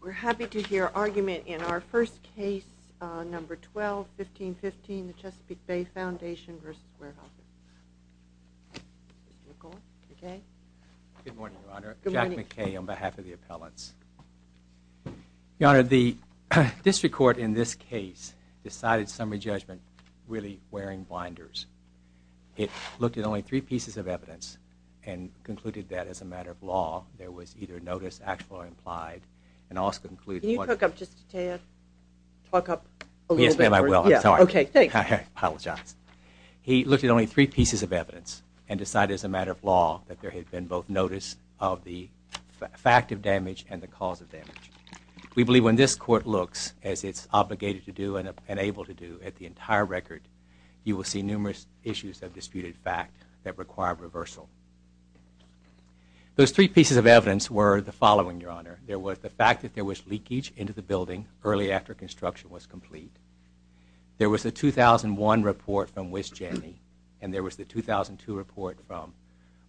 We're happy to hear argument in our first case, number 12-1515, the Chesapeake Bay Foundation v. Weyerhaeuser. Good morning, Your Honor. Jack McKay on behalf of the appellants. Your Honor, the district court in this case decided summary judgment really wearing blinders. It looked at only three pieces of evidence and concluded that as a matter of law there was either notice actually implied and also included... Can you talk up just a tad? Talk up a little bit? Yes, ma'am, I will. I'm sorry. Okay, thanks. I apologize. He looked at only three pieces of evidence and decided as a matter of law that there had been both notice of the fact of damage and the cause of damage. We believe when this court looks as it's obligated to do and able to do at the entire record, you will see numerous issues of disputed fact that require reversal. Those three pieces of evidence were the following, Your Honor. There was the fact that there was leakage into the building early after construction was complete. There was a 2001 report from Wisgeny and there was the 2002 report from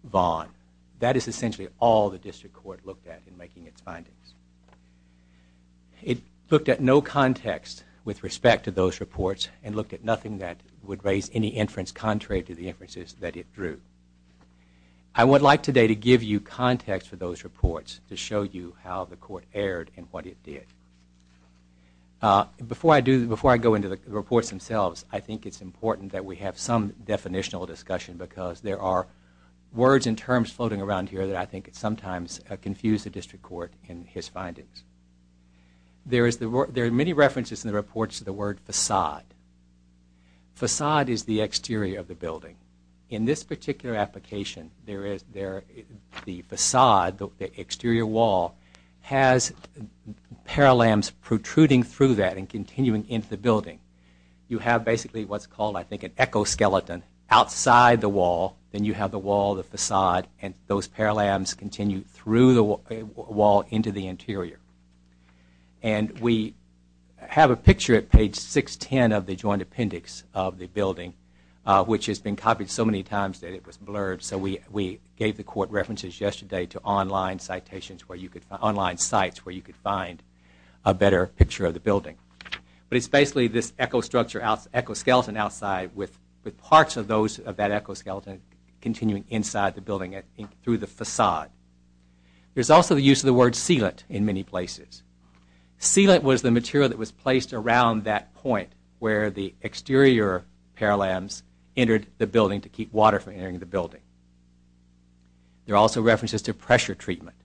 Vaughan. That is essentially all the district court looked at in making its findings. It looked at no context with respect to those reports and looked at nothing that would raise any inference contrary to the inferences that it drew. I would like today to give you context for those reports to show you how the court erred and what it did. Before I go into the reports themselves, I think it's important that we have some definitional discussion because there are words and terms floating around here that I think sometimes confuse the district court in his findings. There are many references in the reports to the word façade. Façade is the exterior of the building. In this particular application, the façade, the exterior wall, has parallelams protruding through that and continuing into the building. You have basically what's called, I think, an echoskeleton outside the wall. Then you have the wall, the façade, and those parallelams continue through the wall into the interior. We have a picture at page 610 of the joint appendix of the building, which has been copied so many times that it was blurred. We gave the court references yesterday to online sites where you could find a better picture of the building. It's basically this echoskeleton outside with parts of that echoskeleton continuing inside the building through the façade. There's also the use of the word sealant in many places. Sealant was the material that was placed around that point where the exterior parallelams entered the building to keep water from entering the building. There are also references to pressure treatment.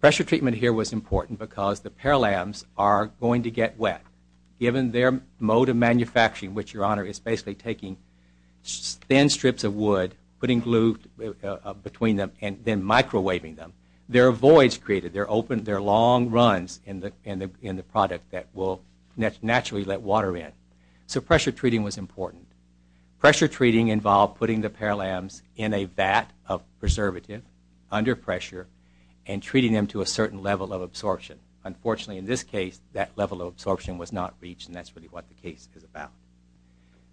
Pressure treatment here was important because the parallelams are going to get wet. Given their mode of manufacturing, which, Your Honor, is basically taking thin strips of wood, putting glue between them, and then microwaving them, there are voids created. There are long runs in the product that will naturally let water in. So pressure treating was important. Pressure treating involved putting the parallelams in a vat of preservative under pressure and treating them to a certain level of absorption. Unfortunately, in this case, that level of absorption was not reached, and that's really what the case is about.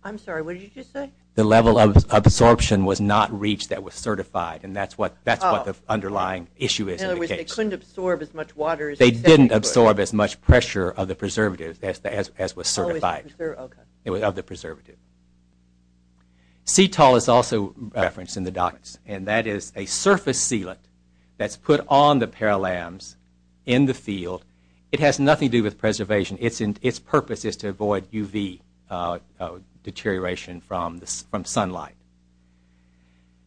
I'm sorry, what did you just say? The level of absorption was not reached that was certified, and that's what the underlying issue is in the case. In other words, they couldn't absorb as much water as they said they would. They didn't absorb as much pressure of the preservative as was certified. Okay. It was of the preservative. CETOL is also referenced in the documents, and that is a surface sealant that's put on the parallelams in the field. It has nothing to do with preservation. Its purpose is to avoid UV deterioration from sunlight.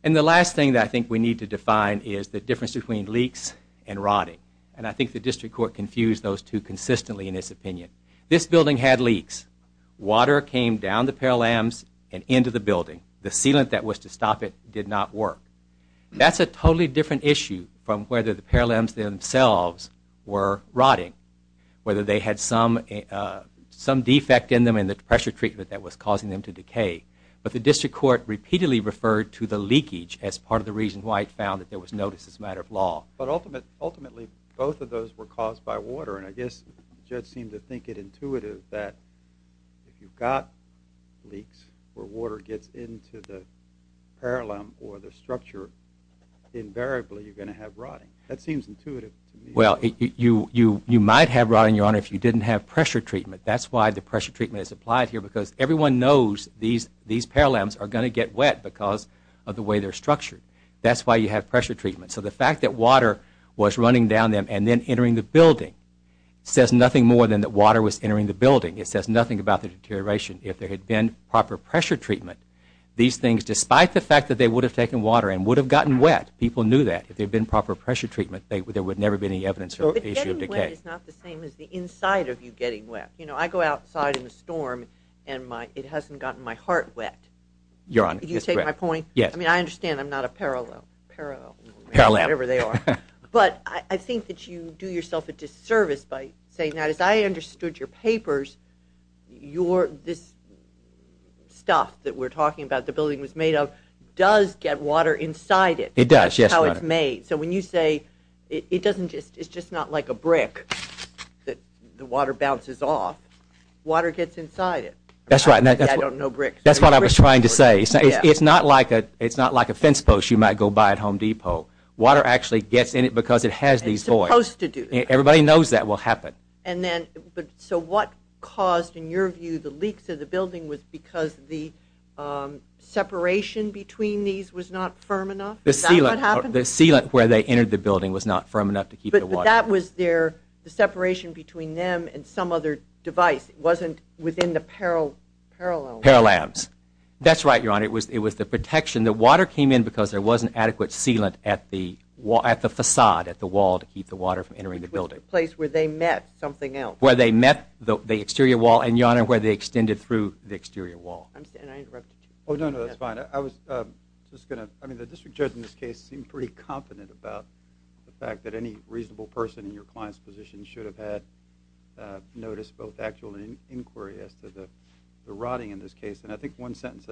And the last thing that I think we need to define is the difference between leaks and rotting, and I think the district court confused those two consistently in its opinion. This building had leaks. Water came down the parallelams and into the building. The sealant that was to stop it did not work. That's a totally different issue from whether the parallelams themselves were rotting, whether they had some defect in them and the pressure treatment that was causing them to decay. But the district court repeatedly referred to the leakage as part of the reason why it found that there was notice as a matter of law. But ultimately, both of those were caused by water, and I guess the judge seemed to think it intuitive that if you've got leaks where water gets into the parallelam or the structure, invariably you're going to have rotting. That seems intuitive to me. Well, you might have rotting, Your Honor, if you didn't have pressure treatment. That's why the pressure treatment is applied here because everyone knows these parallelams are going to get wet because of the way they're structured. That's why you have pressure treatment. So the fact that water was running down them and then entering the building says nothing more than that water was entering the building. It says nothing about the deterioration. If there had been proper pressure treatment, these things, despite the fact that they would have taken water and would have gotten wet, people knew that if there had been proper pressure treatment, there would never have been any evidence of issue of decay. But getting wet is not the same as the inside of you getting wet. You know, I go outside in the storm and it hasn't gotten my heart wet. Your Honor, that's correct. Do you take my point? Yes. I mean, I understand I'm not a parallelam, whatever they are. But I think that you do yourself a disservice by saying that as I understood your papers, this stuff that we're talking about the building was made of does get water inside it. It does, yes, Your Honor. That's how it's made. So when you say it's just not like a brick that the water bounces off, water gets inside it. That's right. I don't know bricks. That's what I was trying to say. It's not like a fence post you might go buy at Home Depot. Water actually gets in it because it has these voids. It's supposed to do that. Everybody knows that will happen. So what caused, in your view, the leaks in the building was because the separation between these was not firm enough? Is that what happened? The sealant where they entered the building was not firm enough to keep the water. But that was their separation between them and some other device. It wasn't within the parallelam. Parallelams. That's right, Your Honor. It was the protection. The water came in because there wasn't adequate sealant at the facade, at the wall, to keep the water from entering the building. Which was the place where they met something else. Where they met the exterior wall, and, Your Honor, where they extended through the exterior wall. I'm sorry. I interrupted you. Oh, no, no. That's fine. I was just going to – I mean, the district judge in this case seemed pretty confident about the fact that any reasonable person in your client's position should have had noticed both actual and inquiry as to the rotting in this case. And I think one sentence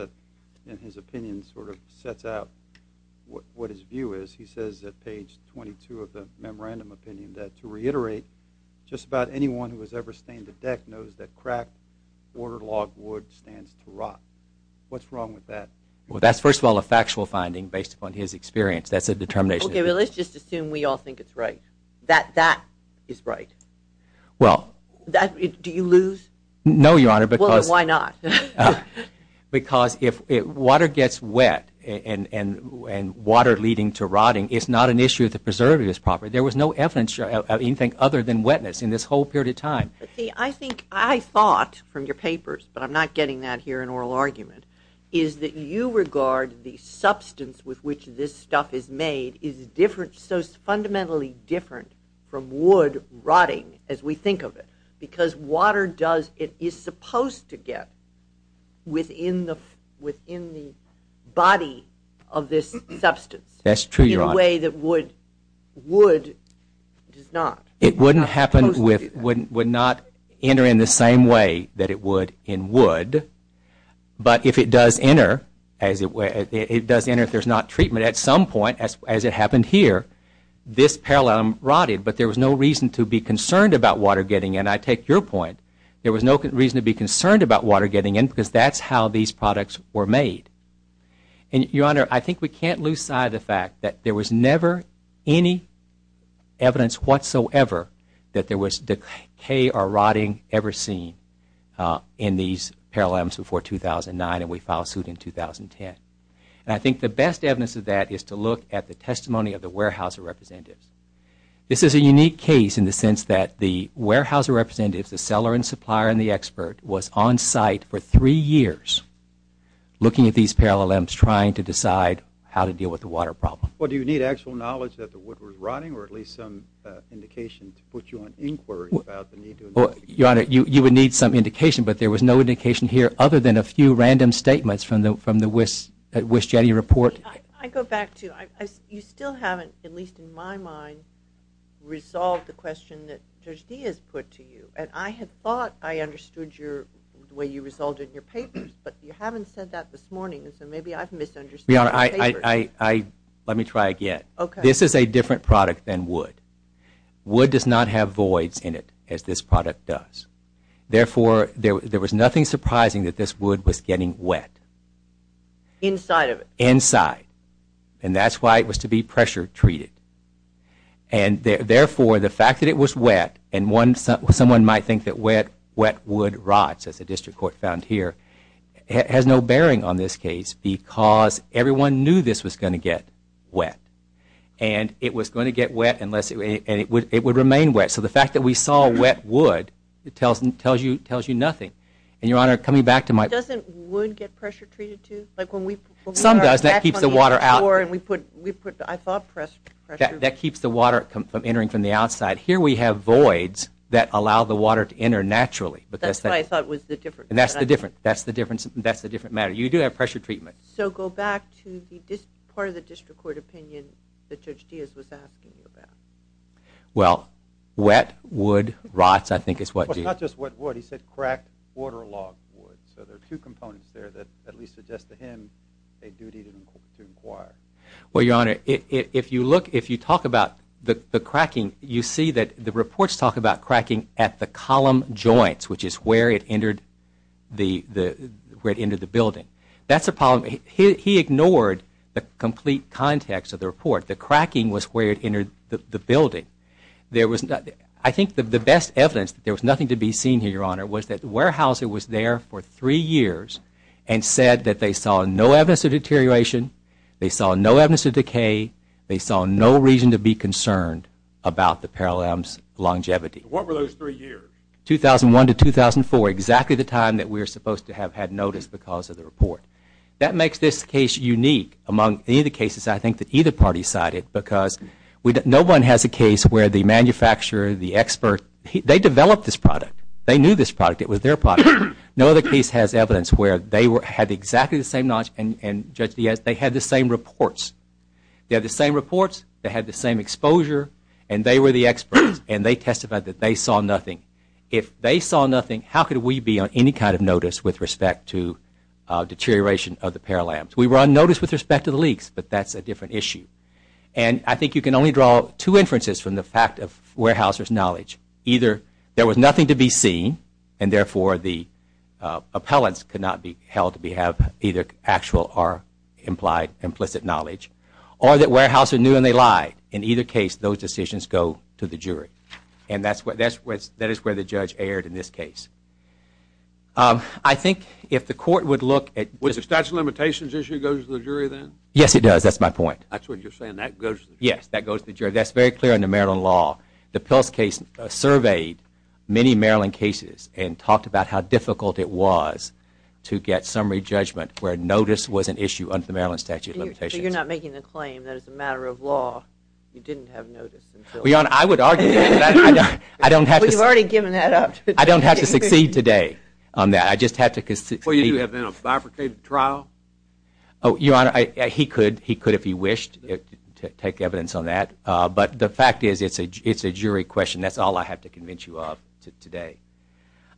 in his opinion sort of sets out what his view is. He says at page 22 of the memorandum opinion that to reiterate, just about anyone who has ever stained a deck knows that cracked, waterlogged wood stands to rot. What's wrong with that? Well, that's, first of all, a factual finding based upon his experience. That's a determination. Okay. Well, let's just assume we all think it's right. That that is right. Well. Do you lose? No, Your Honor, because – Well, why not? Because if water gets wet and water leading to rotting is not an issue of the preservatives property. There was no evidence of anything other than wetness in this whole period of time. See, I think I thought from your papers, but I'm not getting that here in oral argument, is that you regard the substance with which this stuff is made is different – so it's fundamentally different from wood rotting as we think of it because water does – it is supposed to get within the body of this substance. That's true, Your Honor. In a way that wood does not. It's not supposed to do that. Would not enter in the same way that it would in wood, but if it does enter, it does enter if there's not treatment. At some point, as it happened here, this parallelum rotted, but there was no reason to be concerned about water getting in. And I take your point, there was no reason to be concerned about water getting in because that's how these products were made. And, Your Honor, I think we can't lose sight of the fact that there was never any evidence whatsoever that there was decay or rotting ever seen in these parallelums before 2009, and we filed suit in 2010. And I think the best evidence of that is to look at the testimony of the warehouser representatives. This is a unique case in the sense that the warehouser representatives, the seller and supplier and the expert, was on site for three years looking at these parallelums trying to decide how to deal with the water problem. Well, do you need actual knowledge that the wood was rotting or at least some indication to put you on inquiry about the need to investigate? Your Honor, you would need some indication, but there was no indication here other than a few random statements from the WisJetty report. I mean, I go back to you still haven't, at least in my mind, resolved the question that Judge Diaz put to you, and I had thought I understood the way you resolved it in your papers, but you haven't said that this morning, so maybe I've misunderstood your papers. Your Honor, let me try again. Okay. This is a different product than wood. Wood does not have voids in it as this product does. Therefore, there was nothing surprising that this wood was getting wet. Inside of it? Inside. And that's why it was to be pressure treated. And therefore, the fact that it was wet, and someone might think that wet wood rots, as the district court found here, has no bearing on this case because everyone knew this was going to get wet, and it was going to get wet unless it would remain wet. So the fact that we saw wet wood tells you nothing. And, Your Honor, coming back to my point. Doesn't wood get pressure treated, too? Some does. That keeps the water out. I thought pressure. That keeps the water from entering from the outside. Here we have voids that allow the water to enter naturally. That's what I thought was the difference. That's the difference. That's the different matter. You do have pressure treatment. So go back to part of the district court opinion that Judge Diaz was asking you about. Well, wet wood rots, I think is what Diaz said. Not just wet wood. He said cracked waterlogged wood. So there are two components there that at least suggest to him a duty to inquire. Well, Your Honor, if you talk about the cracking, you see that the reports talk about cracking at the column joints, which is where it entered the building. That's a problem. He ignored the complete context of the report. The cracking was where it entered the building. I think the best evidence that there was nothing to be seen here, Your Honor, was that the warehouser was there for three years and said that they saw no evidence of deterioration, they saw no evidence of decay, they saw no reason to be concerned about the parallel's longevity. What were those three years? 2001 to 2004, exactly the time that we were supposed to have had notice because of the report. That makes this case unique among any of the cases I think that either party cited because no one has a case where the manufacturer, the expert, they developed this product. They knew this product. It was their product. No other case has evidence where they had exactly the same knowledge and, Judge Diaz, they had the same reports. They had the same reports. They had the same exposure, and they were the experts, and they testified that they saw nothing. If they saw nothing, how could we be on any kind of notice with respect to deterioration of the parallel? We were on notice with respect to the leaks, but that's a different issue. And I think you can only draw two inferences from the fact of warehouser's knowledge. Either there was nothing to be seen, and therefore the appellants could not be held to have either actual or implied implicit knowledge, or that warehouser knew and they lied. In either case, those decisions go to the jury. And that is where the judge erred in this case. I think if the court would look at Would the statute of limitations issue go to the jury then? Yes, it does. That's my point. That's what you're saying. That goes to the jury. Yes, that goes to the jury. That's very clear in the Maryland law. The Pils case surveyed many Maryland cases and talked about how difficult it was to get summary judgment where notice was an issue under the Maryland statute of limitations. So you're not making the claim that it's a matter of law. You didn't have notice until Well, Your Honor, I would argue that I don't have to Well, you've already given that up. I don't have to succeed today on that. I just have to Well, you do have then a bifurcated trial. Oh, Your Honor, he could if he wished to take evidence on that. But the fact is it's a jury question. That's all I have to convince you of today.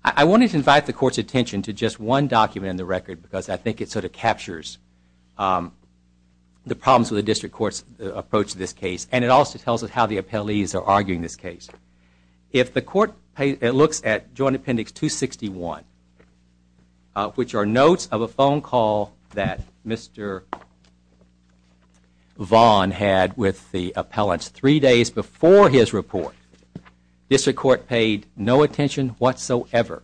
I wanted to invite the court's attention to just one document in the record because I think it sort of captures the problems with the district court's approach to this case. And it also tells us how the appellees are arguing this case. If the court looks at Joint Appendix 261, which are notes of a phone call that Mr. Vaughn had with the appellants three days before his report, district court paid no attention whatsoever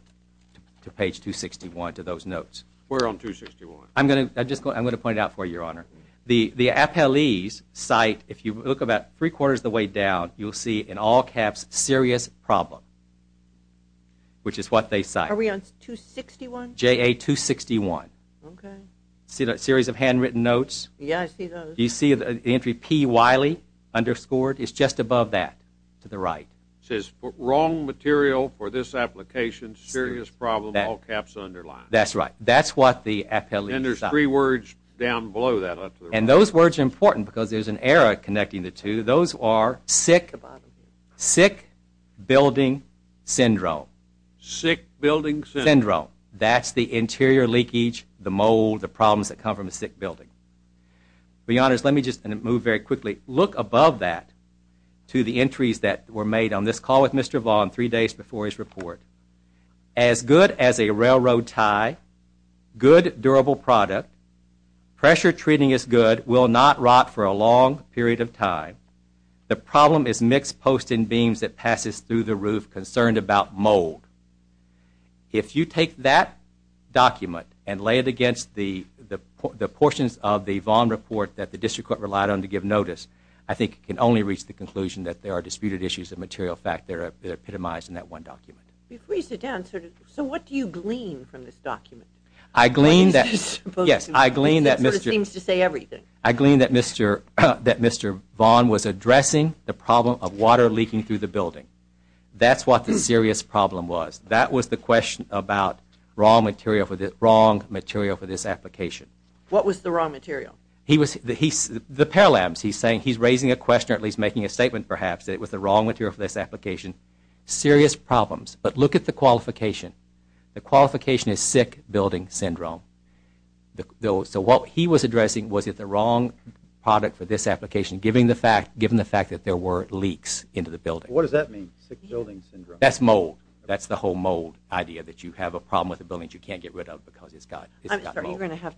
to page 261, to those notes. Where on 261? I'm going to point it out for you, Your Honor. The appellee's site, if you look about three quarters of the way down, you'll see in all caps, SERIOUS PROBLEM, which is what they cite. Are we on 261? J.A. 261. Okay. See that series of handwritten notes? Yeah, I see those. Do you see the entry P. Wiley, underscored? It's just above that to the right. It says, WRONG MATERIAL FOR THIS APPLICATION, SERIOUS PROBLEM, all caps underlined. That's right. That's what the appellee's site. And there's three words down below that. And those words are important because there's an error connecting the two. Those are SICK BUILDING SYNDROME. SICK BUILDING SYNDROME. That's the interior leakage, the mold, the problems that come from a sick building. Your Honors, let me just move very quickly. Look above that to the entries that were made on this call with Mr. Vaughn three days before his report. AS GOOD AS A RAILROAD TIE, GOOD DURABLE PRODUCT, PRESSURE TREATING IS GOOD, WILL NOT ROT FOR A LONG PERIOD OF TIME. THE PROBLEM IS MIXED POST AND BEAMS THAT PASSES THROUGH THE ROOF CONCERNED ABOUT MOLD. IF YOU TAKE THAT DOCUMENT AND LAY IT AGAINST THE PORTIONS OF THE VAUGHN REPORT THAT THE DISTRICT COURT RELIED ON TO GIVE NOTICE, I THINK IT CAN ONLY REACH THE CONCLUSION THAT THERE ARE DISPUTED ISSUES OF MATERIAL FACT THAT ARE EPITOMIZED IN THAT ONE DOCUMENT. Before you sit down, sir, so what do you glean from this document? I glean that Mr. Vaughn was addressing the problem of water leaking through the building. That's what the serious problem was. That was the question about raw material for this application. What was the raw material? He's raising a question or at least making a statement perhaps that it was the raw material for this application. Serious problems. But look at the qualification. The qualification is sick building syndrome. So what he was addressing was that the wrong product for this application given the fact that there were leaks into the building. What does that mean, sick building syndrome? That's mold. That's the whole mold idea that you have a problem with a building that you can't get rid of because it's got mold. I'm sorry, you're going to have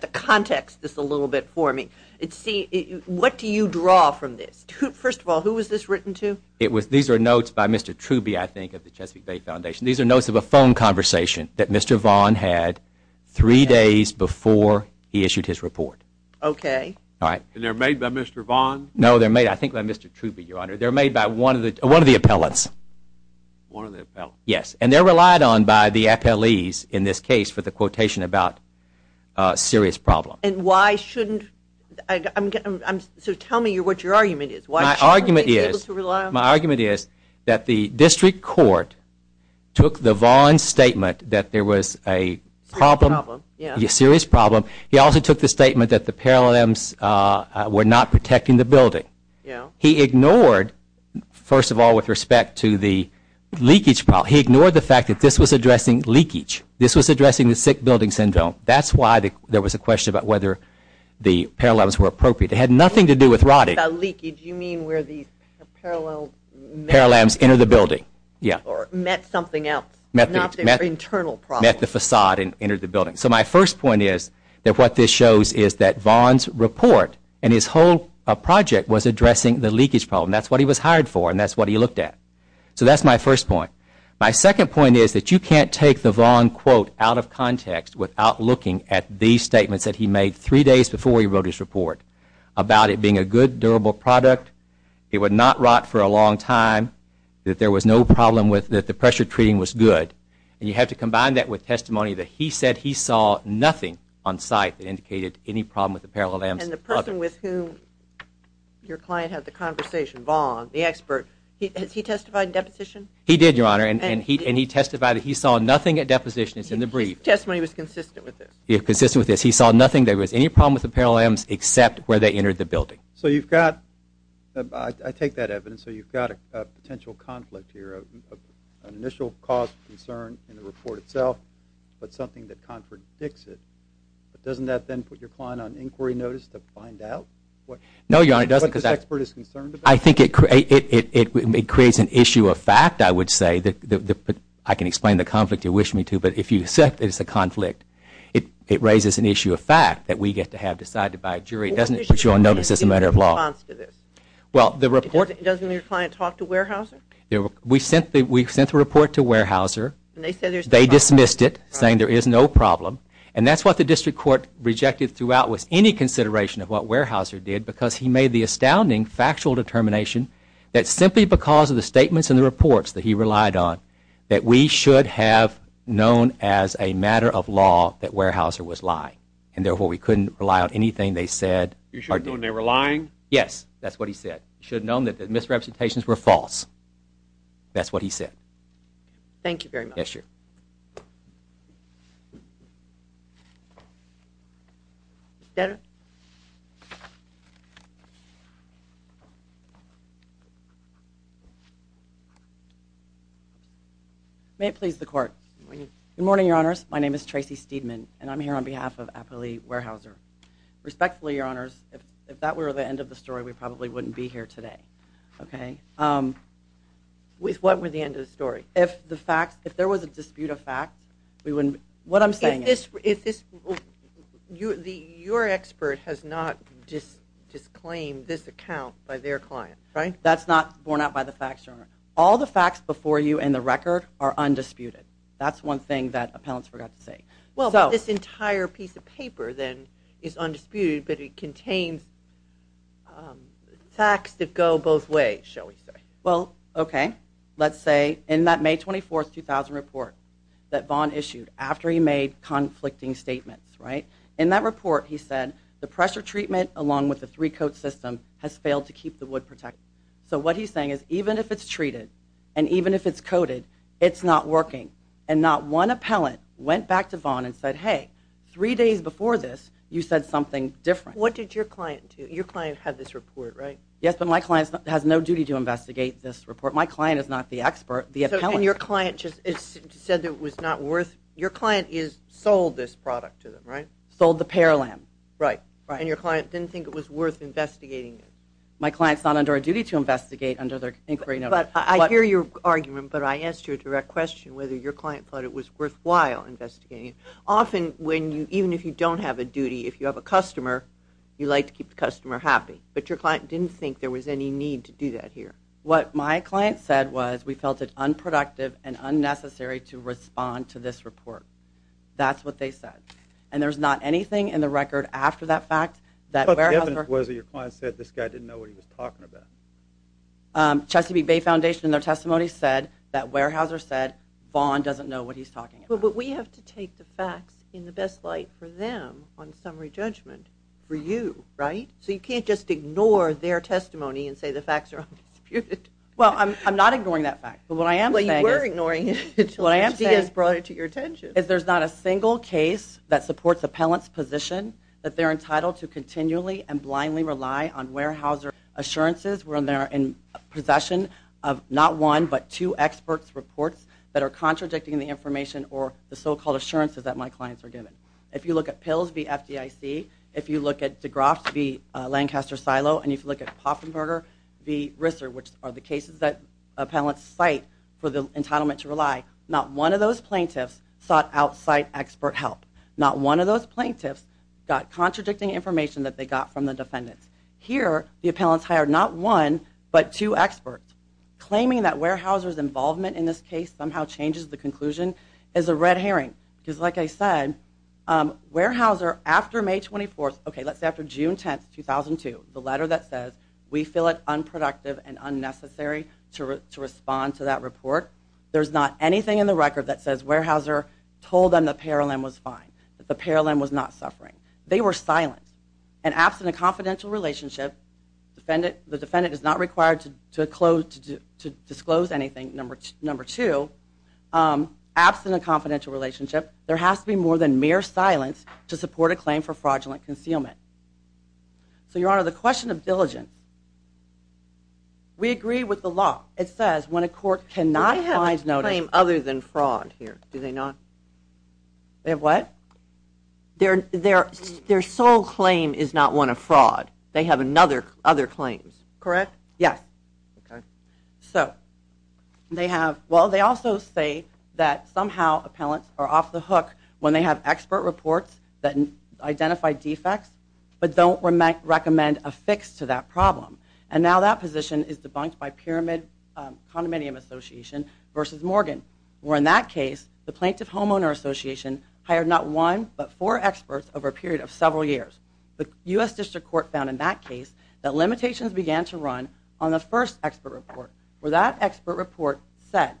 to context this a little bit for me. What do you draw from this? First of all, who was this written to? These are notes by Mr. Truby, I think, of the Chesapeake Bay Foundation. These are notes of a phone conversation that Mr. Vaughn had three days before he issued his report. Okay. And they're made by Mr. Vaughn? No, they're made I think by Mr. Truby, Your Honor. They're made by one of the appellants. One of the appellants. Yes, and they're relied on by the appellees in this case for the quotation about serious problem. So tell me what your argument is. My argument is that the district court took the Vaughn statement that there was a problem, a serious problem. He also took the statement that the Paralympics were not protecting the building. He ignored, first of all, with respect to the leakage problem. He ignored the fact that this was addressing leakage. This was addressing the sick building syndrome. That's why there was a question about whether the Paralympics were appropriate. It had nothing to do with rotting. By leakage, you mean where these parallel... Paralamps enter the building. Or met something else. Met the facade and entered the building. So my first point is that what this shows is that Vaughn's report and his whole project was addressing the leakage problem. That's what he was hired for and that's what he looked at. So that's my first point. My second point is that you can't take the Vaughn quote out of context without looking at these statements that he made three days before he wrote his report about it being a good, durable product. It would not rot for a long time. That there was no problem with... that the pressure treating was good. And you have to combine that with testimony that he said he saw nothing on site that indicated any problem with the Paralympics. And the person with whom your client had the conversation, Vaughn, the expert, has he testified in deposition? He did, Your Honor. And he testified that he saw nothing at deposition. It's in the brief. His testimony was consistent with this. He saw nothing that was any problem with the Paralympics except where they entered the building. So you've got... I take that evidence. So you've got a potential conflict here, an initial cause of concern in the report itself, but something that contradicts it. But doesn't that then put your client on inquiry notice to find out what... No, Your Honor, it doesn't. ...what this expert is concerned about? I think it creates an issue of fact, I would say. I can explain the conflict if you wish me to, but if you accept that it's a conflict, it raises an issue of fact that we get to have decided by a jury. It doesn't put you on notice as a matter of law. Well, the report... Doesn't your client talk to Weyerhaeuser? We sent the report to Weyerhaeuser. They dismissed it, saying there is no problem. And that's what the district court rejected throughout with any consideration of what Weyerhaeuser did because he made the astounding factual determination that simply because of the statements in the reports that he relied on that we should have known as a matter of law that Weyerhaeuser was lying. And therefore, we couldn't rely on anything they said or did. You should have known they were lying? Yes, that's what he said. You should have known that the misrepresentations were false. That's what he said. Thank you very much. Yes, Your Honor. Mr. Stedman. May it please the court. Good morning. Good morning, Your Honors. My name is Tracy Stedman, and I'm here on behalf of Appali Weyerhaeuser. Respectfully, Your Honors, if that were the end of the story, we probably wouldn't be here today. Okay? What would be the end of the story? If there was a dispute of facts, we wouldn't be here. What I'm saying is… Your expert has not disclaimed this account by their client, right? That's not borne out by the facts, Your Honor. All the facts before you in the record are undisputed. That's one thing that appellants forgot to say. Well, this entire piece of paper, then, is undisputed, but it contains facts that go both ways, shall we say. Well, okay. Let's say in that May 24, 2000 report that Vaughn issued after he made conflicting statements, right? In that report, he said the pressure treatment along with the three-coat system has failed to keep the wood protected. So what he's saying is even if it's treated and even if it's coated, it's not working. And not one appellant went back to Vaughn and said, hey, three days before this, you said something different. What did your client do? Your client had this report, right? Yes, but my client has no duty to investigate this report. My client is not the expert, the appellant. And your client just said that it was not worth – your client sold this product to them, right? Sold the Paralamb. Right, right. And your client didn't think it was worth investigating it? My client's not under a duty to investigate under their inquiry notice. But I hear your argument, but I asked you a direct question whether your client thought it was worthwhile investigating it. Often when you – even if you don't have a duty, if you have a customer, you like to keep the customer happy. But your client didn't think there was any need to do that here. What my client said was we felt it unproductive and unnecessary to respond to this report. That's what they said. And there's not anything in the record after that fact that – What the evidence was that your client said this guy didn't know what he was talking about? Chesapeake Bay Foundation, in their testimony, said that Weyerhaeuser said Vaughn doesn't know what he's talking about. But we have to take the facts in the best light for them on summary judgment for you, right? So you can't just ignore their testimony and say the facts are undisputed. Well, I'm not ignoring that fact. But what I am saying is – Well, you were ignoring it until HDS brought it to your attention. What I am saying is there's not a single case that supports appellant's position that they're entitled to continually and blindly rely on Weyerhaeuser assurances when they're in possession of not one but two experts' reports that are contradicting the information or the so-called assurances that my clients are given. If you look at Pills v. FDIC, if you look at DeGroff v. Lancaster Silo, and if you look at Poffenberger v. Risser, which are the cases that appellants cite for the entitlement to rely, not one of those plaintiffs sought outside expert help. Not one of those plaintiffs got contradicting information that they got from the defendants. Here, the appellants hired not one but two experts. Claiming that Weyerhaeuser's involvement in this case somehow changes the conclusion is a red herring because, like I said, Weyerhaeuser, after May 24th, okay, let's say after June 10th, 2002, the letter that says we feel it unproductive and unnecessary to respond to that report, there's not anything in the record that says Weyerhaeuser told them the Paralim was fine, that the Paralim was not suffering. They were silent, and absent a confidential relationship, the defendant is not required to disclose anything, number two, absent a confidential relationship, there has to be more than mere silence to support a claim for fraudulent concealment. So, Your Honor, the question of diligence. We agree with the law. It says when a court cannot find notice... They have a claim other than fraud here, do they not? They have what? Their sole claim is not one of fraud. They have other claims. Correct? Yes. Okay. So, they have... Well, they also say that somehow appellants are off the hook when they have expert reports that identify defects, but don't recommend a fix to that problem. And now that position is debunked by Pyramid Condominium Association versus Morgan, where in that case, the Plaintiff Homeowner Association hired not one, but four experts over a period of several years. The U.S. District Court found in that case that limitations began to run on the first expert report, where that expert report said,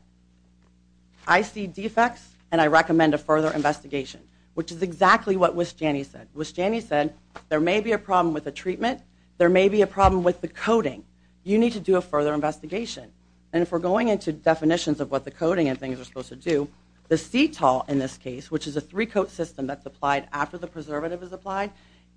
I see defects, and I recommend a further investigation, which is exactly what Wisjani said. Wisjani said there may be a problem with the treatment, there may be a problem with the coating. You need to do a further investigation. And if we're going into definitions of what the coating and things are supposed to do, the Cetol in this case, which is a three-coat system that's applied after the preservative is applied,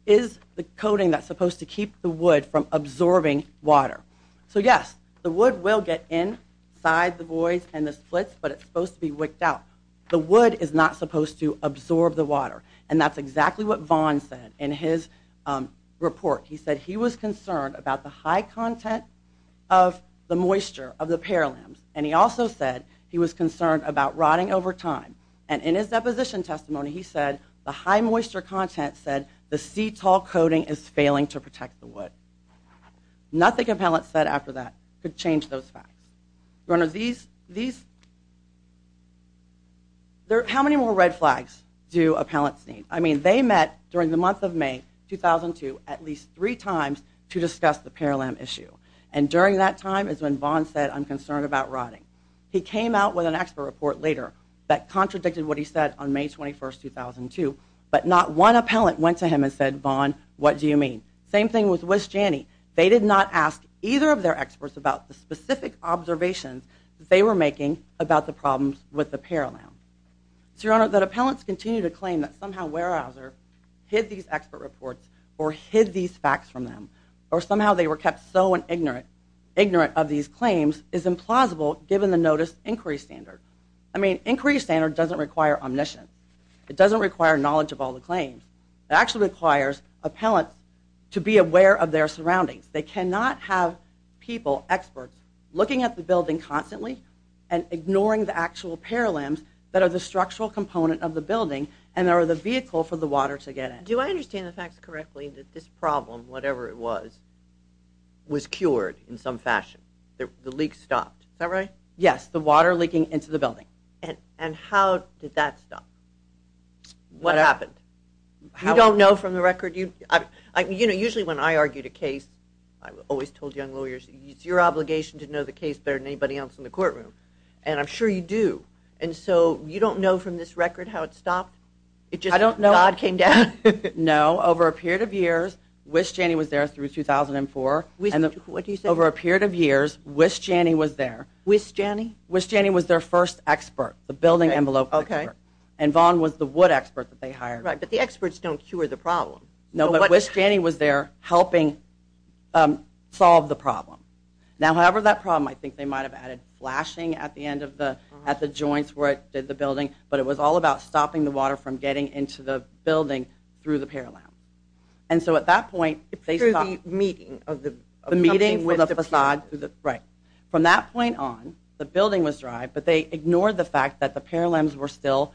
is the coating that's supposed to keep the wood from absorbing water. So yes, the wood will get inside the buoys and the splits, but it's supposed to be wicked out. The wood is not supposed to absorb the water, and that's exactly what Vaughn said in his report. He said he was concerned about the high content of the moisture of the pear limbs, and he also said he was concerned about rotting over time. And in his deposition testimony, he said the high moisture content said the Cetol coating is failing to protect the wood. Nothing appellant said after that could change those facts. How many more red flags do appellants need? I mean, they met during the month of May 2002 at least three times to discuss the pear limb issue, and during that time is when Vaughn said, I'm concerned about rotting. He came out with an expert report later that contradicted what he said on May 21, 2002, but not one appellant went to him and said, Vaughn, what do you mean? Same thing with Wisjani. They did not ask either of their experts about the specific observations that they were making about the problems with the pear limb. So, Your Honor, that appellants continue to claim that somehow Weyerhaeuser hid these expert reports or hid these facts from them or somehow they were kept so ignorant of these claims is implausible given the notice inquiry standard. I mean, inquiry standard doesn't require omniscience. It doesn't require knowledge of all the claims. It actually requires appellants to be aware of their surroundings. They cannot have people, experts, looking at the building constantly and ignoring the actual pear limbs that are the structural component of the building and are the vehicle for the water to get in. Do I understand the facts correctly that this problem, whatever it was, was cured in some fashion? The leak stopped, is that right? Yes, the water leaking into the building. And how did that stop? What happened? You don't know from the record? Usually when I argue the case, I always told young lawyers, it's your obligation to know the case better than anybody else in the courtroom. And I'm sure you do. And so you don't know from this record how it stopped? I don't know. God came down? No. Over a period of years, Wisjani was there through 2004. What do you say? Over a period of years, Wisjani was there. Wisjani? Wisjani was their first expert, the building envelope expert. Okay. And Vaughn was the wood expert that they hired. Right, but the experts don't cure the problem. No, but Wisjani was there helping solve the problem. Now, however, that problem, I think they might have added flashing at the joints where it did the building, but it was all about stopping the water from getting into the building through the pear limb. And so at that point, they stopped. Through the meeting. The meeting with the facade. Right. From that point on, the building was dry, but they ignored the fact that the pear limbs were still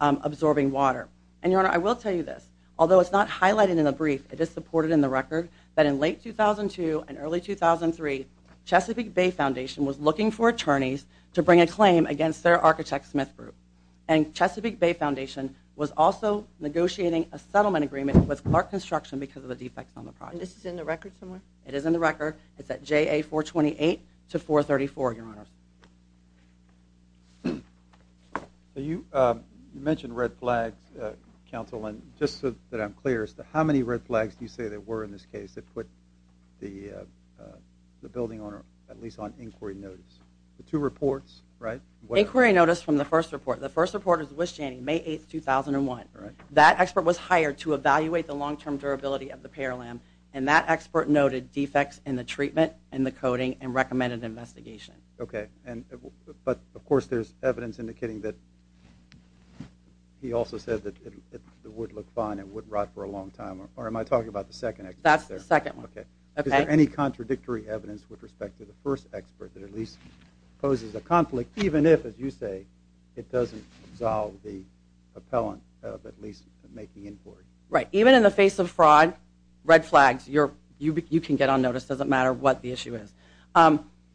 absorbing water. And, Your Honor, I will tell you this. Although it's not highlighted in the brief, it is supported in the record that in late 2002 and early 2003, Chesapeake Bay Foundation was looking for attorneys to bring a claim against their architect Smith Group. And Chesapeake Bay Foundation was also negotiating a settlement agreement with Clark Construction because of the defects on the project. And this is in the record somewhere? It is in the record. It's at JA 428 to 434, Your Honor. You mentioned red flags, Counsel, and just so that I'm clear as to how many red flags do you say there were in this case that put the building at least on inquiry notice? The two reports, right? Inquiry notice from the first report. The first report is Wisjani, May 8, 2001. That expert was hired to evaluate the long-term durability of the pear limb, and that expert noted defects in the treatment and the coating and recommended investigation. Okay. But, of course, there's evidence indicating that he also said that it would look fine and wouldn't rot for a long time. Or am I talking about the second expert? That's the second one. Okay. Is there any contradictory evidence with respect to the first expert that at least poses a conflict, even if, as you say, it doesn't absolve the appellant of at least making inquiry? Right. Even in the face of fraud, red flags, you can get on notice. It doesn't matter what the issue is.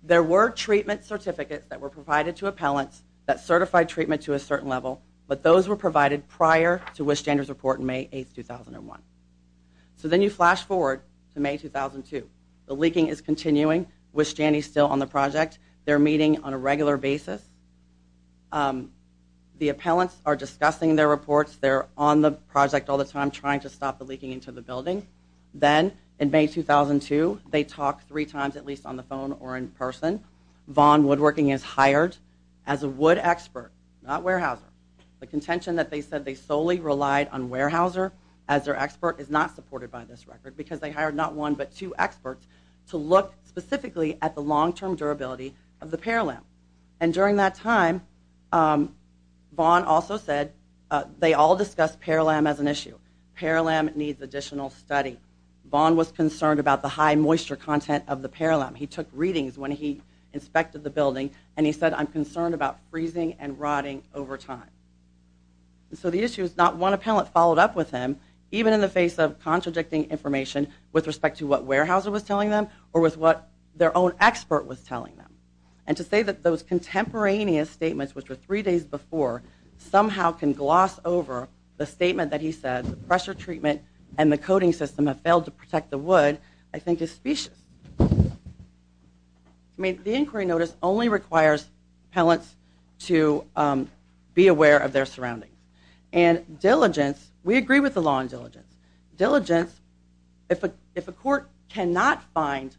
There were treatment certificates that were provided to appellants that certified treatment to a certain level, but those were provided prior to Wisjani's report in May 8, 2001. So then you flash forward to May 2002. The leaking is continuing. Wisjani is still on the project. They're meeting on a regular basis. The appellants are discussing their reports. They're on the project all the time trying to stop the leaking into the building. Then in May 2002, they talk three times at least on the phone or in person. Vaughn Woodworking is hired as a wood expert, not Weyerhaeuser. The contention that they said they solely relied on Weyerhaeuser as their expert is not supported by this record because they hired not one but two experts to look specifically at the long-term durability of the Paralamp. During that time, Vaughn also said they all discussed Paralamp as an issue. Paralamp needs additional study. Vaughn was concerned about the high moisture content of the Paralamp. He took readings when he inspected the building, and he said, I'm concerned about freezing and rotting over time. So the issue is not one appellant followed up with him, even in the face of contradicting information with respect to what Weyerhaeuser was telling them or with what their own expert was telling them. And to say that those contemporaneous statements, which were three days before, somehow can gloss over the statement that he said, the pressure treatment and the coating system have failed to protect the wood, I think is specious. I mean, the inquiry notice only requires appellants to be aware of their surroundings. And diligence, we agree with the law on diligence. Diligence, if a court cannot find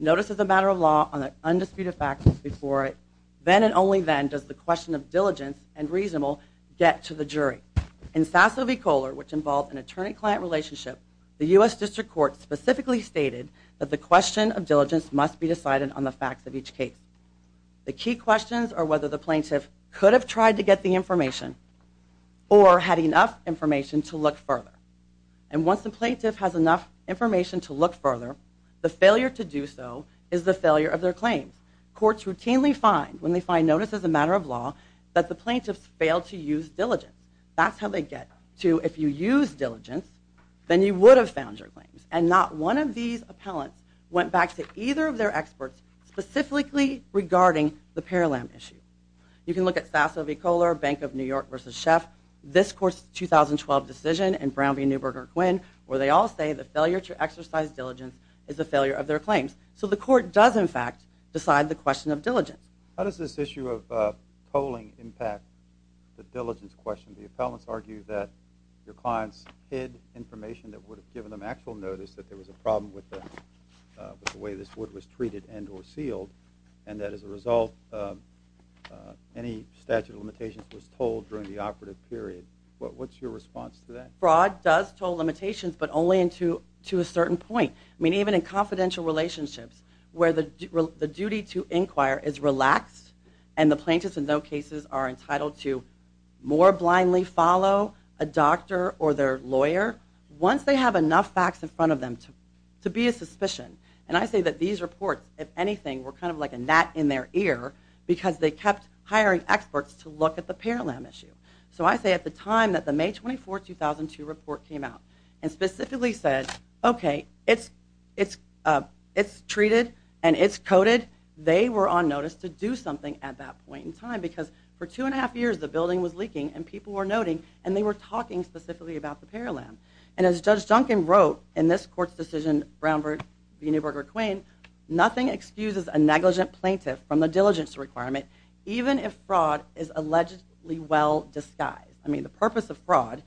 notices of matter of law on an indisputed facts before it, then and only then does the question of diligence and reasonable get to the jury. In Sasso v. Kohler, which involved an attorney-client relationship, the U.S. District Court specifically stated that the question of diligence must be decided on the facts of each case. The key questions are whether the plaintiff could have tried to get the information or had enough information to look further. And once the plaintiff has enough information to look further, the failure to do so is the failure of their claims. Courts routinely find, when they find notices of matter of law, that the plaintiffs failed to use diligence. That's how they get to, if you used diligence, then you would have found your claims. And not one of these appellants went back to either of their experts specifically regarding the Paralamp issue. You can look at Sasso v. Kohler, Bank of New York v. Sheff, this court's 2012 decision, and Brown v. Neuberger-Quinn, where they all say the failure to exercise diligence is the failure of their claims. So the court does, in fact, decide the question of diligence. How does this issue of polling impact the diligence question? The appellants argue that your clients hid information that would have given them actual notice that there was a problem with the way this wood was treated and or sealed, and that as a result any statute of limitations was told during the operative period. What's your response to that? Fraud does toll limitations, but only to a certain point. I mean, even in confidential relationships where the duty to inquire is relaxed and the plaintiffs in those cases are entitled to more blindly follow a doctor or their lawyer once they have enough facts in front of them to be a suspicion. And I say that these reports, if anything, were kind of like a gnat in their ear because they kept hiring experts to look at the Paralamp issue. So I say at the time that the May 24, 2002 report came out and specifically said, okay, it's treated and it's coded, they were on notice to do something at that point in time because for two and a half years the building was leaking and people were noting and they were talking specifically about the Paralamp. And as Judge Duncan wrote in this court's decision, Brown v. Neuberger-Quinn, nothing excuses a negligent plaintiff from the diligence requirement even if fraud is allegedly well disguised. I mean, the purpose of fraud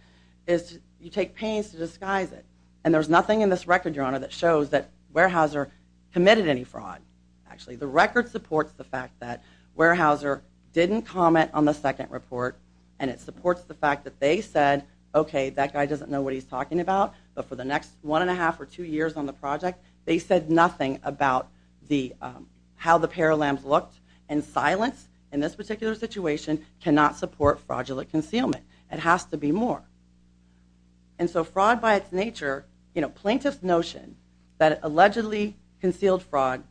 is you take pains to disguise it. And there's nothing in this record, Your Honor, that shows that Weyerhaeuser committed any fraud. Actually, the record supports the fact that Weyerhaeuser didn't comment on the second report and it supports the fact that they said, okay, that guy doesn't know what he's talking about, but for the next one and a half or two years on the project they said nothing about how the Paralamps looked. And silence in this particular situation cannot support fraudulent concealment. It has to be more. And so fraud by its nature, you know, plaintiff's notion that allegedly concealed fraud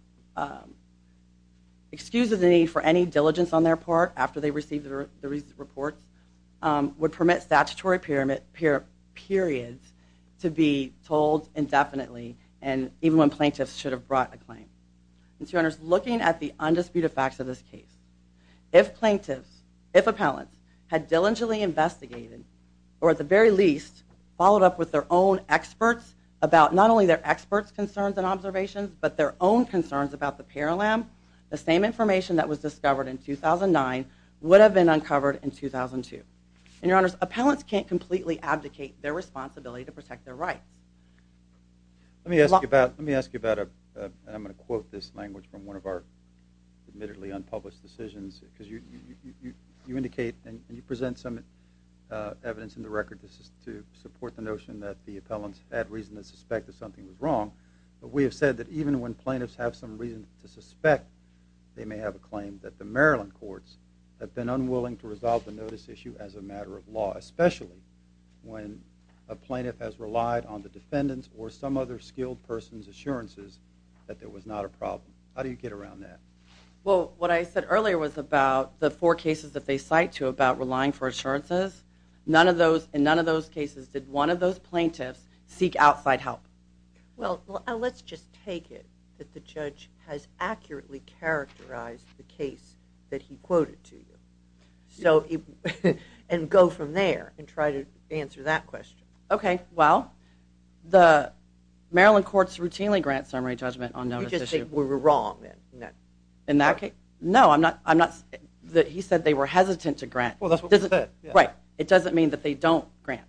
excuses the need for any diligence on their part after they receive the report would permit statutory periods to be told indefinitely even when plaintiffs should have brought a claim. And so, Your Honors, looking at the undisputed facts of this case, if plaintiffs, if appellants, had diligently investigated or at the very least followed up with their own experts about not only their experts' concerns and observations, but their own concerns about the Paralamp, the same information that was discovered in 2009 would have been uncovered in 2002. And, Your Honors, appellants can't completely abdicate their responsibility to protect their rights. Let me ask you about, and I'm going to quote this language from one of our admittedly unpublished decisions, because you indicate and you present some evidence in the record to support the notion that the appellants had reason to suspect that something was wrong, but we have said that even when plaintiffs have some reason to suspect they may have a claim that the Maryland courts especially when a plaintiff has relied on the defendant's or some other skilled person's assurances that there was not a problem. How do you get around that? Well, what I said earlier was about the four cases that they cite to about relying for assurances. In none of those cases did one of those plaintiffs seek outside help. Well, let's just take it that the judge has accurately characterized the case that he quoted to you. And go from there and try to answer that question. Okay, well, the Maryland courts routinely grant summary judgment on those issues. You just say we were wrong in that case. No, he said they were hesitant to grant. Well, that's what you said. Right. It doesn't mean that they don't grant.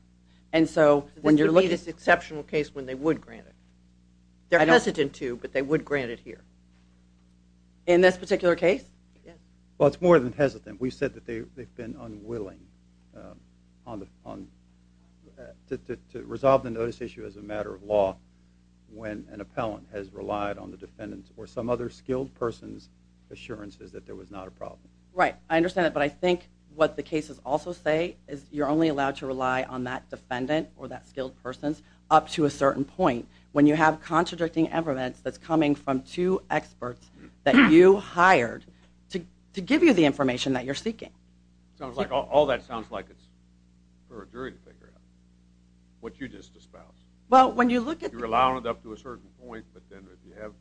This would be this exceptional case when they would grant it. They're hesitant to, but they would grant it here. In this particular case? Yes. Well, it's more than hesitant. We've said that they've been unwilling to resolve the notice issue as a matter of law when an appellant has relied on the defendant's or some other skilled person's assurances that there was not a problem. Right. I understand that. But I think what the cases also say is you're only allowed to rely on that defendant or that skilled person's up to a certain point. when you have contradicting evidence that's coming from two experts that you hired to give you the information that you're seeking. All that sounds like it's for a jury to figure out what you just espoused. Well, when you look at the… You're allowing it up to a certain point, but then if you have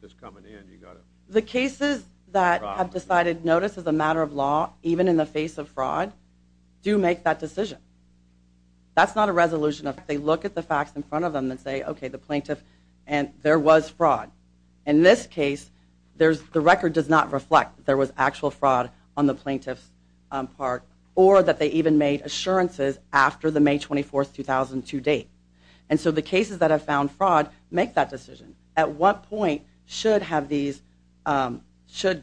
this coming in, you've got to… The cases that have decided notice as a matter of law, even in the face of fraud, do make that decision. That's not a resolution. If they look at the facts in front of them and say, okay, the plaintiff… And there was fraud. In this case, the record does not reflect that there was actual fraud on the plaintiff's part or that they even made assurances after the May 24, 2002 date. And so the cases that have found fraud make that decision. At what point should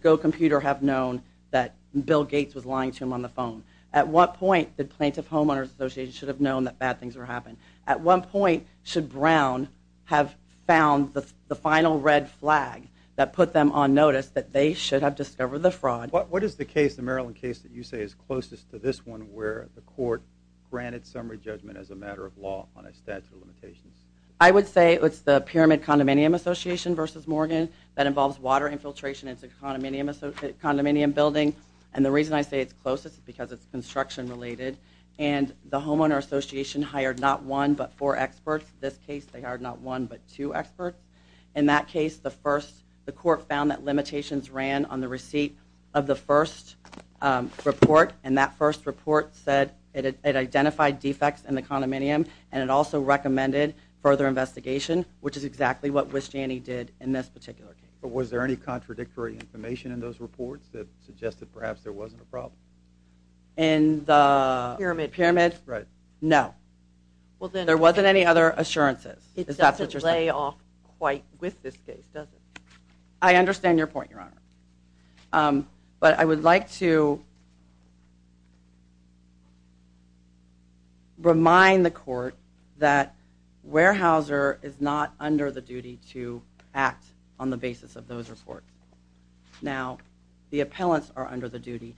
Go Computer have known that Bill Gates was lying to him on the phone? At what point did Plaintiff Homeowners Association should have known that bad things were happening? At what point should Brown have found the final red flag that put them on notice that they should have discovered the fraud? What is the case, the Maryland case, that you say is closest to this one where the court granted summary judgment as a matter of law on a statute of limitations? I would say it's the Pyramid Condominium Association v. Morgan that involves water infiltration into a condominium building. And the reason I say it's closest is because it's construction-related. And the Homeowners Association hired not one, but four experts. In this case, they hired not one, but two experts. In that case, the court found that limitations ran on the receipt of the first report. And that first report said it identified defects in the condominium and it also recommended further investigation, which is exactly what Wisjani did in this particular case. But was there any contradictory information in those reports that suggested perhaps there wasn't a problem? In the Pyramid? No. There wasn't any other assurances. It doesn't lay off quite with this case, does it? I understand your point, Your Honor. But I would like to remind the court that Weyerhaeuser is not under the duty to act on the basis of those reports. Now, the appellants are under the duty.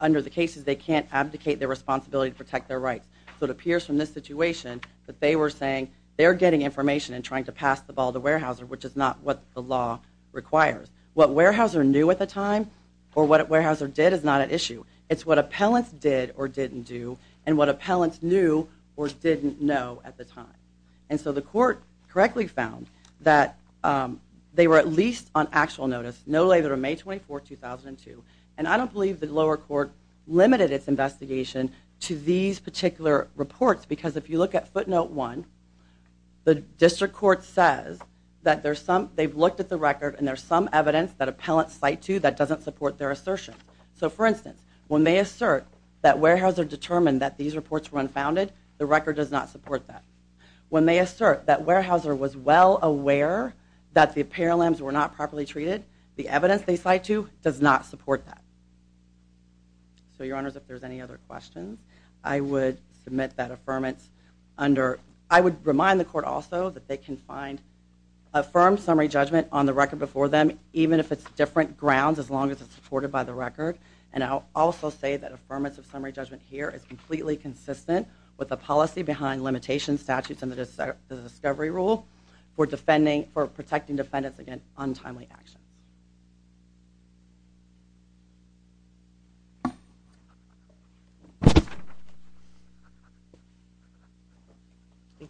Under the cases, they can't abdicate their responsibility to protect their rights. So it appears from this situation that they were saying they're getting information and trying to pass the ball to Weyerhaeuser, which is not what the law requires. What Weyerhaeuser knew at the time or what Weyerhaeuser did is not at issue. It's what appellants did or didn't do and what appellants knew or didn't know at the time. And so the court correctly found that they were at least on actual notice, no later than May 24, 2002, and I don't believe the lower court limited its investigation to these particular reports because if you look at footnote 1, the district court says that they've looked at the record and there's some evidence that appellants cite to that doesn't support their assertion. So, for instance, when they assert that Weyerhaeuser determined that these reports were unfounded, the record does not support that. When they assert that Weyerhaeuser was well aware that the apparel lambs were not properly treated, the evidence they cite to does not support that. So, Your Honors, if there's any other questions, I would submit that affirmance under... I would remind the court also that they can find a firm summary judgment on the record before them, even if it's different grounds, as long as it's supported by the record. And I'll also say that affirmance of summary judgment here is completely consistent with the policy behind limitations, statutes, and the discovery rule for protecting defendants against untimely action. Thank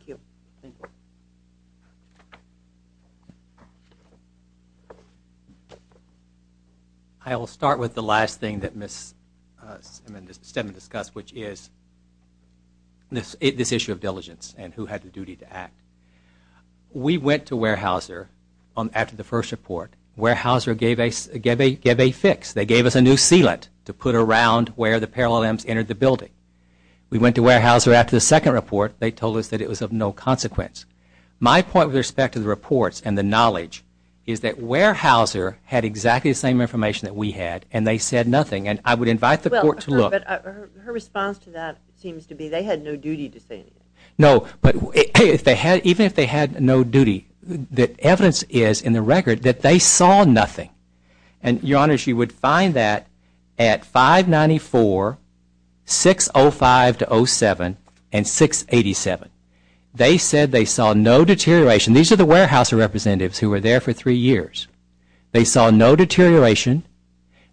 you. I will start with the last thing that Ms. Stedman discussed, which is this issue of diligence and who had the duty to act. We went to Weyerhaeuser after the first report. Weyerhaeuser gave a fix. They gave us a new sealant to put around where the apparel lambs entered the building. We went to Weyerhaeuser after the second report. They told us that it was of no consequence. My point with respect to the reports and the knowledge is that Weyerhaeuser had exactly the same information that we had, and they said nothing. And I would invite the court to look. Her response to that seems to be they had no duty to say anything. No, but even if they had no duty, the evidence is in the record that they saw nothing. And, Your Honor, she would find that at 594, 605-07, and 687. They said they saw no deterioration. These are the Weyerhaeuser representatives who were there for three years. They saw no deterioration.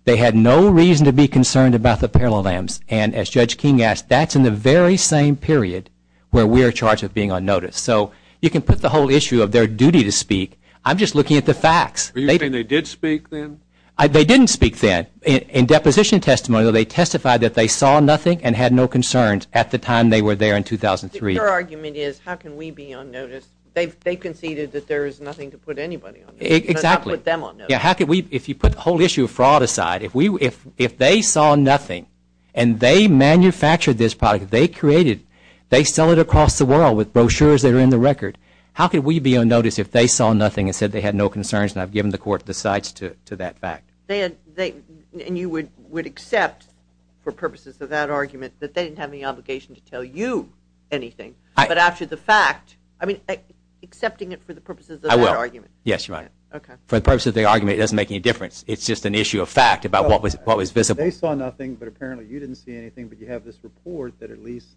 They had no reason to be concerned about the apparel lambs. And as Judge King asked, that's in the very same period where we are charged with being unnoticed. So you can put the whole issue of their duty to speak. I'm just looking at the facts. Are you saying they did speak then? They didn't speak then. In deposition testimony, though, they testified that they saw nothing and had no concerns at the time they were there in 2003. Your argument is how can we be unnoticed? They conceded that there is nothing to put anybody on notice. Exactly. How can we, if you put the whole issue of fraud aside, if they saw nothing and they manufactured this product, they created it, they sell it across the world with brochures that are in the record, how can we be unnoticed if they saw nothing and said they had no concerns and I've given the court the sights to that fact? And you would accept, for purposes of that argument, that they didn't have any obligation to tell you anything. But after the fact, I mean, accepting it for the purposes of that argument. I will. Yes, Your Honor. For the purposes of the argument, it doesn't make any difference. It's just an issue of fact about what was visible. They saw nothing, but apparently you didn't see anything, but you have this report that at least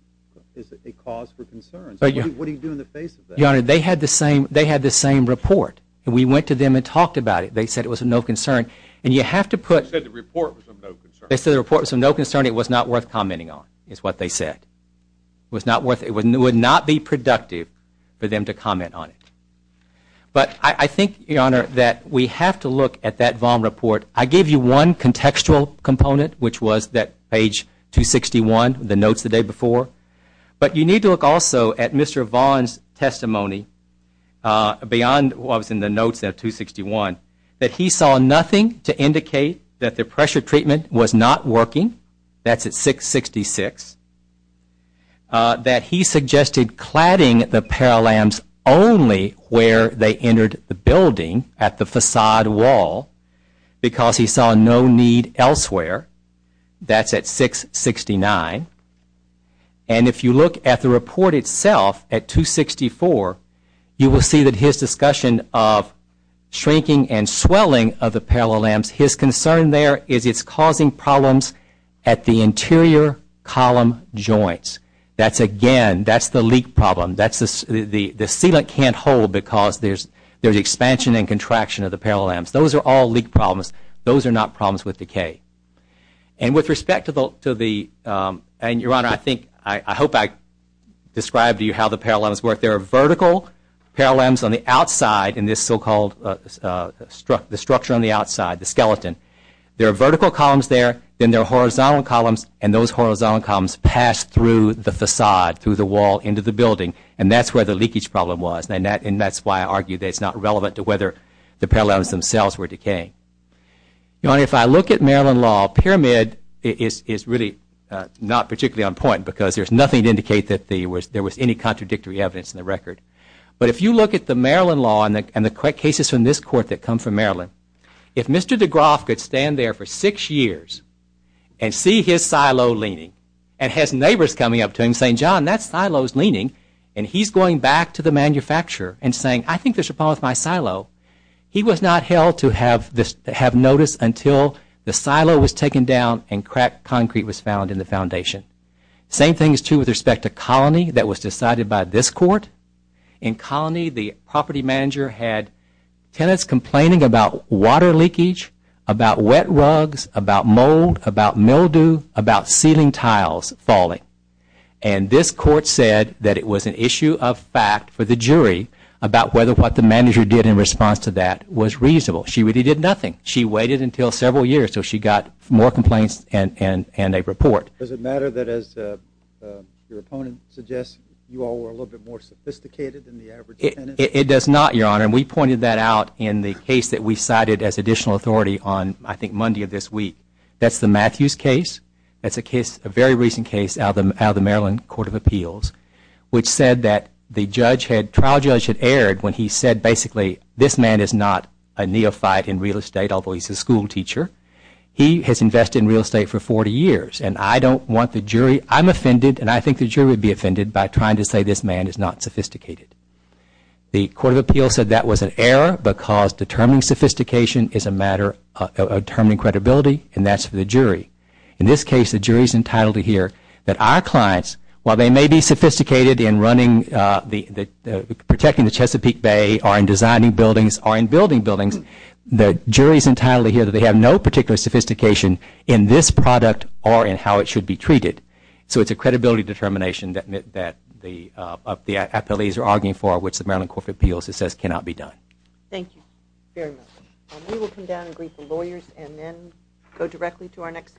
is a cause for concern. What do you do in the face of that? Your Honor, they had the same report. We went to them and talked about it. They said it was of no concern. You said the report was of no concern. They said the report was of no concern. It was not worth commenting on is what they said. It would not be productive for them to comment on it. But I think, Your Honor, that we have to look at that Vaughan report. I gave you one contextual component, which was that page 261, the notes the day before. But you need to look also at Mr. Vaughan's testimony beyond what was in the notes of 261, that he saw nothing to indicate that the pressure treatment was not working. That's at 666. That he suggested cladding the Paralamps only where they entered the building, at the facade wall, because he saw no need elsewhere. That's at 669. And if you look at the report itself at 264, you will see that his discussion of shrinking and swelling of the Paralamps, his concern there is it's causing problems at the interior column joints. That's again, that's the leak problem. The sealant can't hold because there's expansion and contraction of the Paralamps. Those are all leak problems. Those are not problems with decay. And with respect to the, and Your Honor, I hope I described to you how the Paralamps work. There are vertical Paralamps on the outside in this so-called structure on the outside. The skeleton. There are vertical columns there. Then there are horizontal columns. And those horizontal columns pass through the facade, through the wall, into the building. And that's where the leakage problem was. And that's why I argue that it's not relevant to whether the Paralamps themselves were decaying. Your Honor, if I look at Maryland law, Pyramid is really not particularly on point because there's nothing to indicate that there was any contradictory evidence in the record. But if you look at the Maryland law and the cases from this court that come from Maryland, if Mr. DeGroff could stand there for six years and see his silo leaning and has neighbors coming up to him saying, John, that silo's leaning, and he's going back to the manufacturer and saying, I think there's a problem with my silo, he was not held to have notice until the silo was taken down and cracked concrete was found in the foundation. Same thing is true with respect to Colony that was decided by this court. In Colony, the property manager had tenants complaining about water leakage, about wet rugs, about mold, about mildew, about ceiling tiles falling. And this court said that it was an issue of fact for the jury about whether what the manager did in response to that was reasonable. She really did nothing. She waited until several years until she got more complaints and a report. Does it matter that, as your opponent suggests, you all were a little bit more sophisticated than the average tenant? It does not, Your Honor. And we pointed that out in the case that we cited as additional authority on, I think, Monday of this week. That's the Matthews case. That's a very recent case out of the Maryland Court of Appeals, which said that the trial judge had erred when he said, basically, this man is not a neophyte in real estate, although he's a school teacher. He has invested in real estate for 40 years. And I'm offended, and I think the jury would be offended, by trying to say this man is not sophisticated. The Court of Appeals said that was an error because determining sophistication is a matter of determining credibility, and that's for the jury. In this case, the jury is entitled to hear that our clients, while they may be sophisticated in protecting the Chesapeake Bay or in designing buildings or in building buildings, the jury is entitled to hear that they have no particular sophistication in this product or in how it should be treated. So it's a credibility determination that the appellees are arguing for, which the Maryland Court of Appeals says cannot be done. Thank you very much. We will come down and greet the lawyers and then go directly to our next case.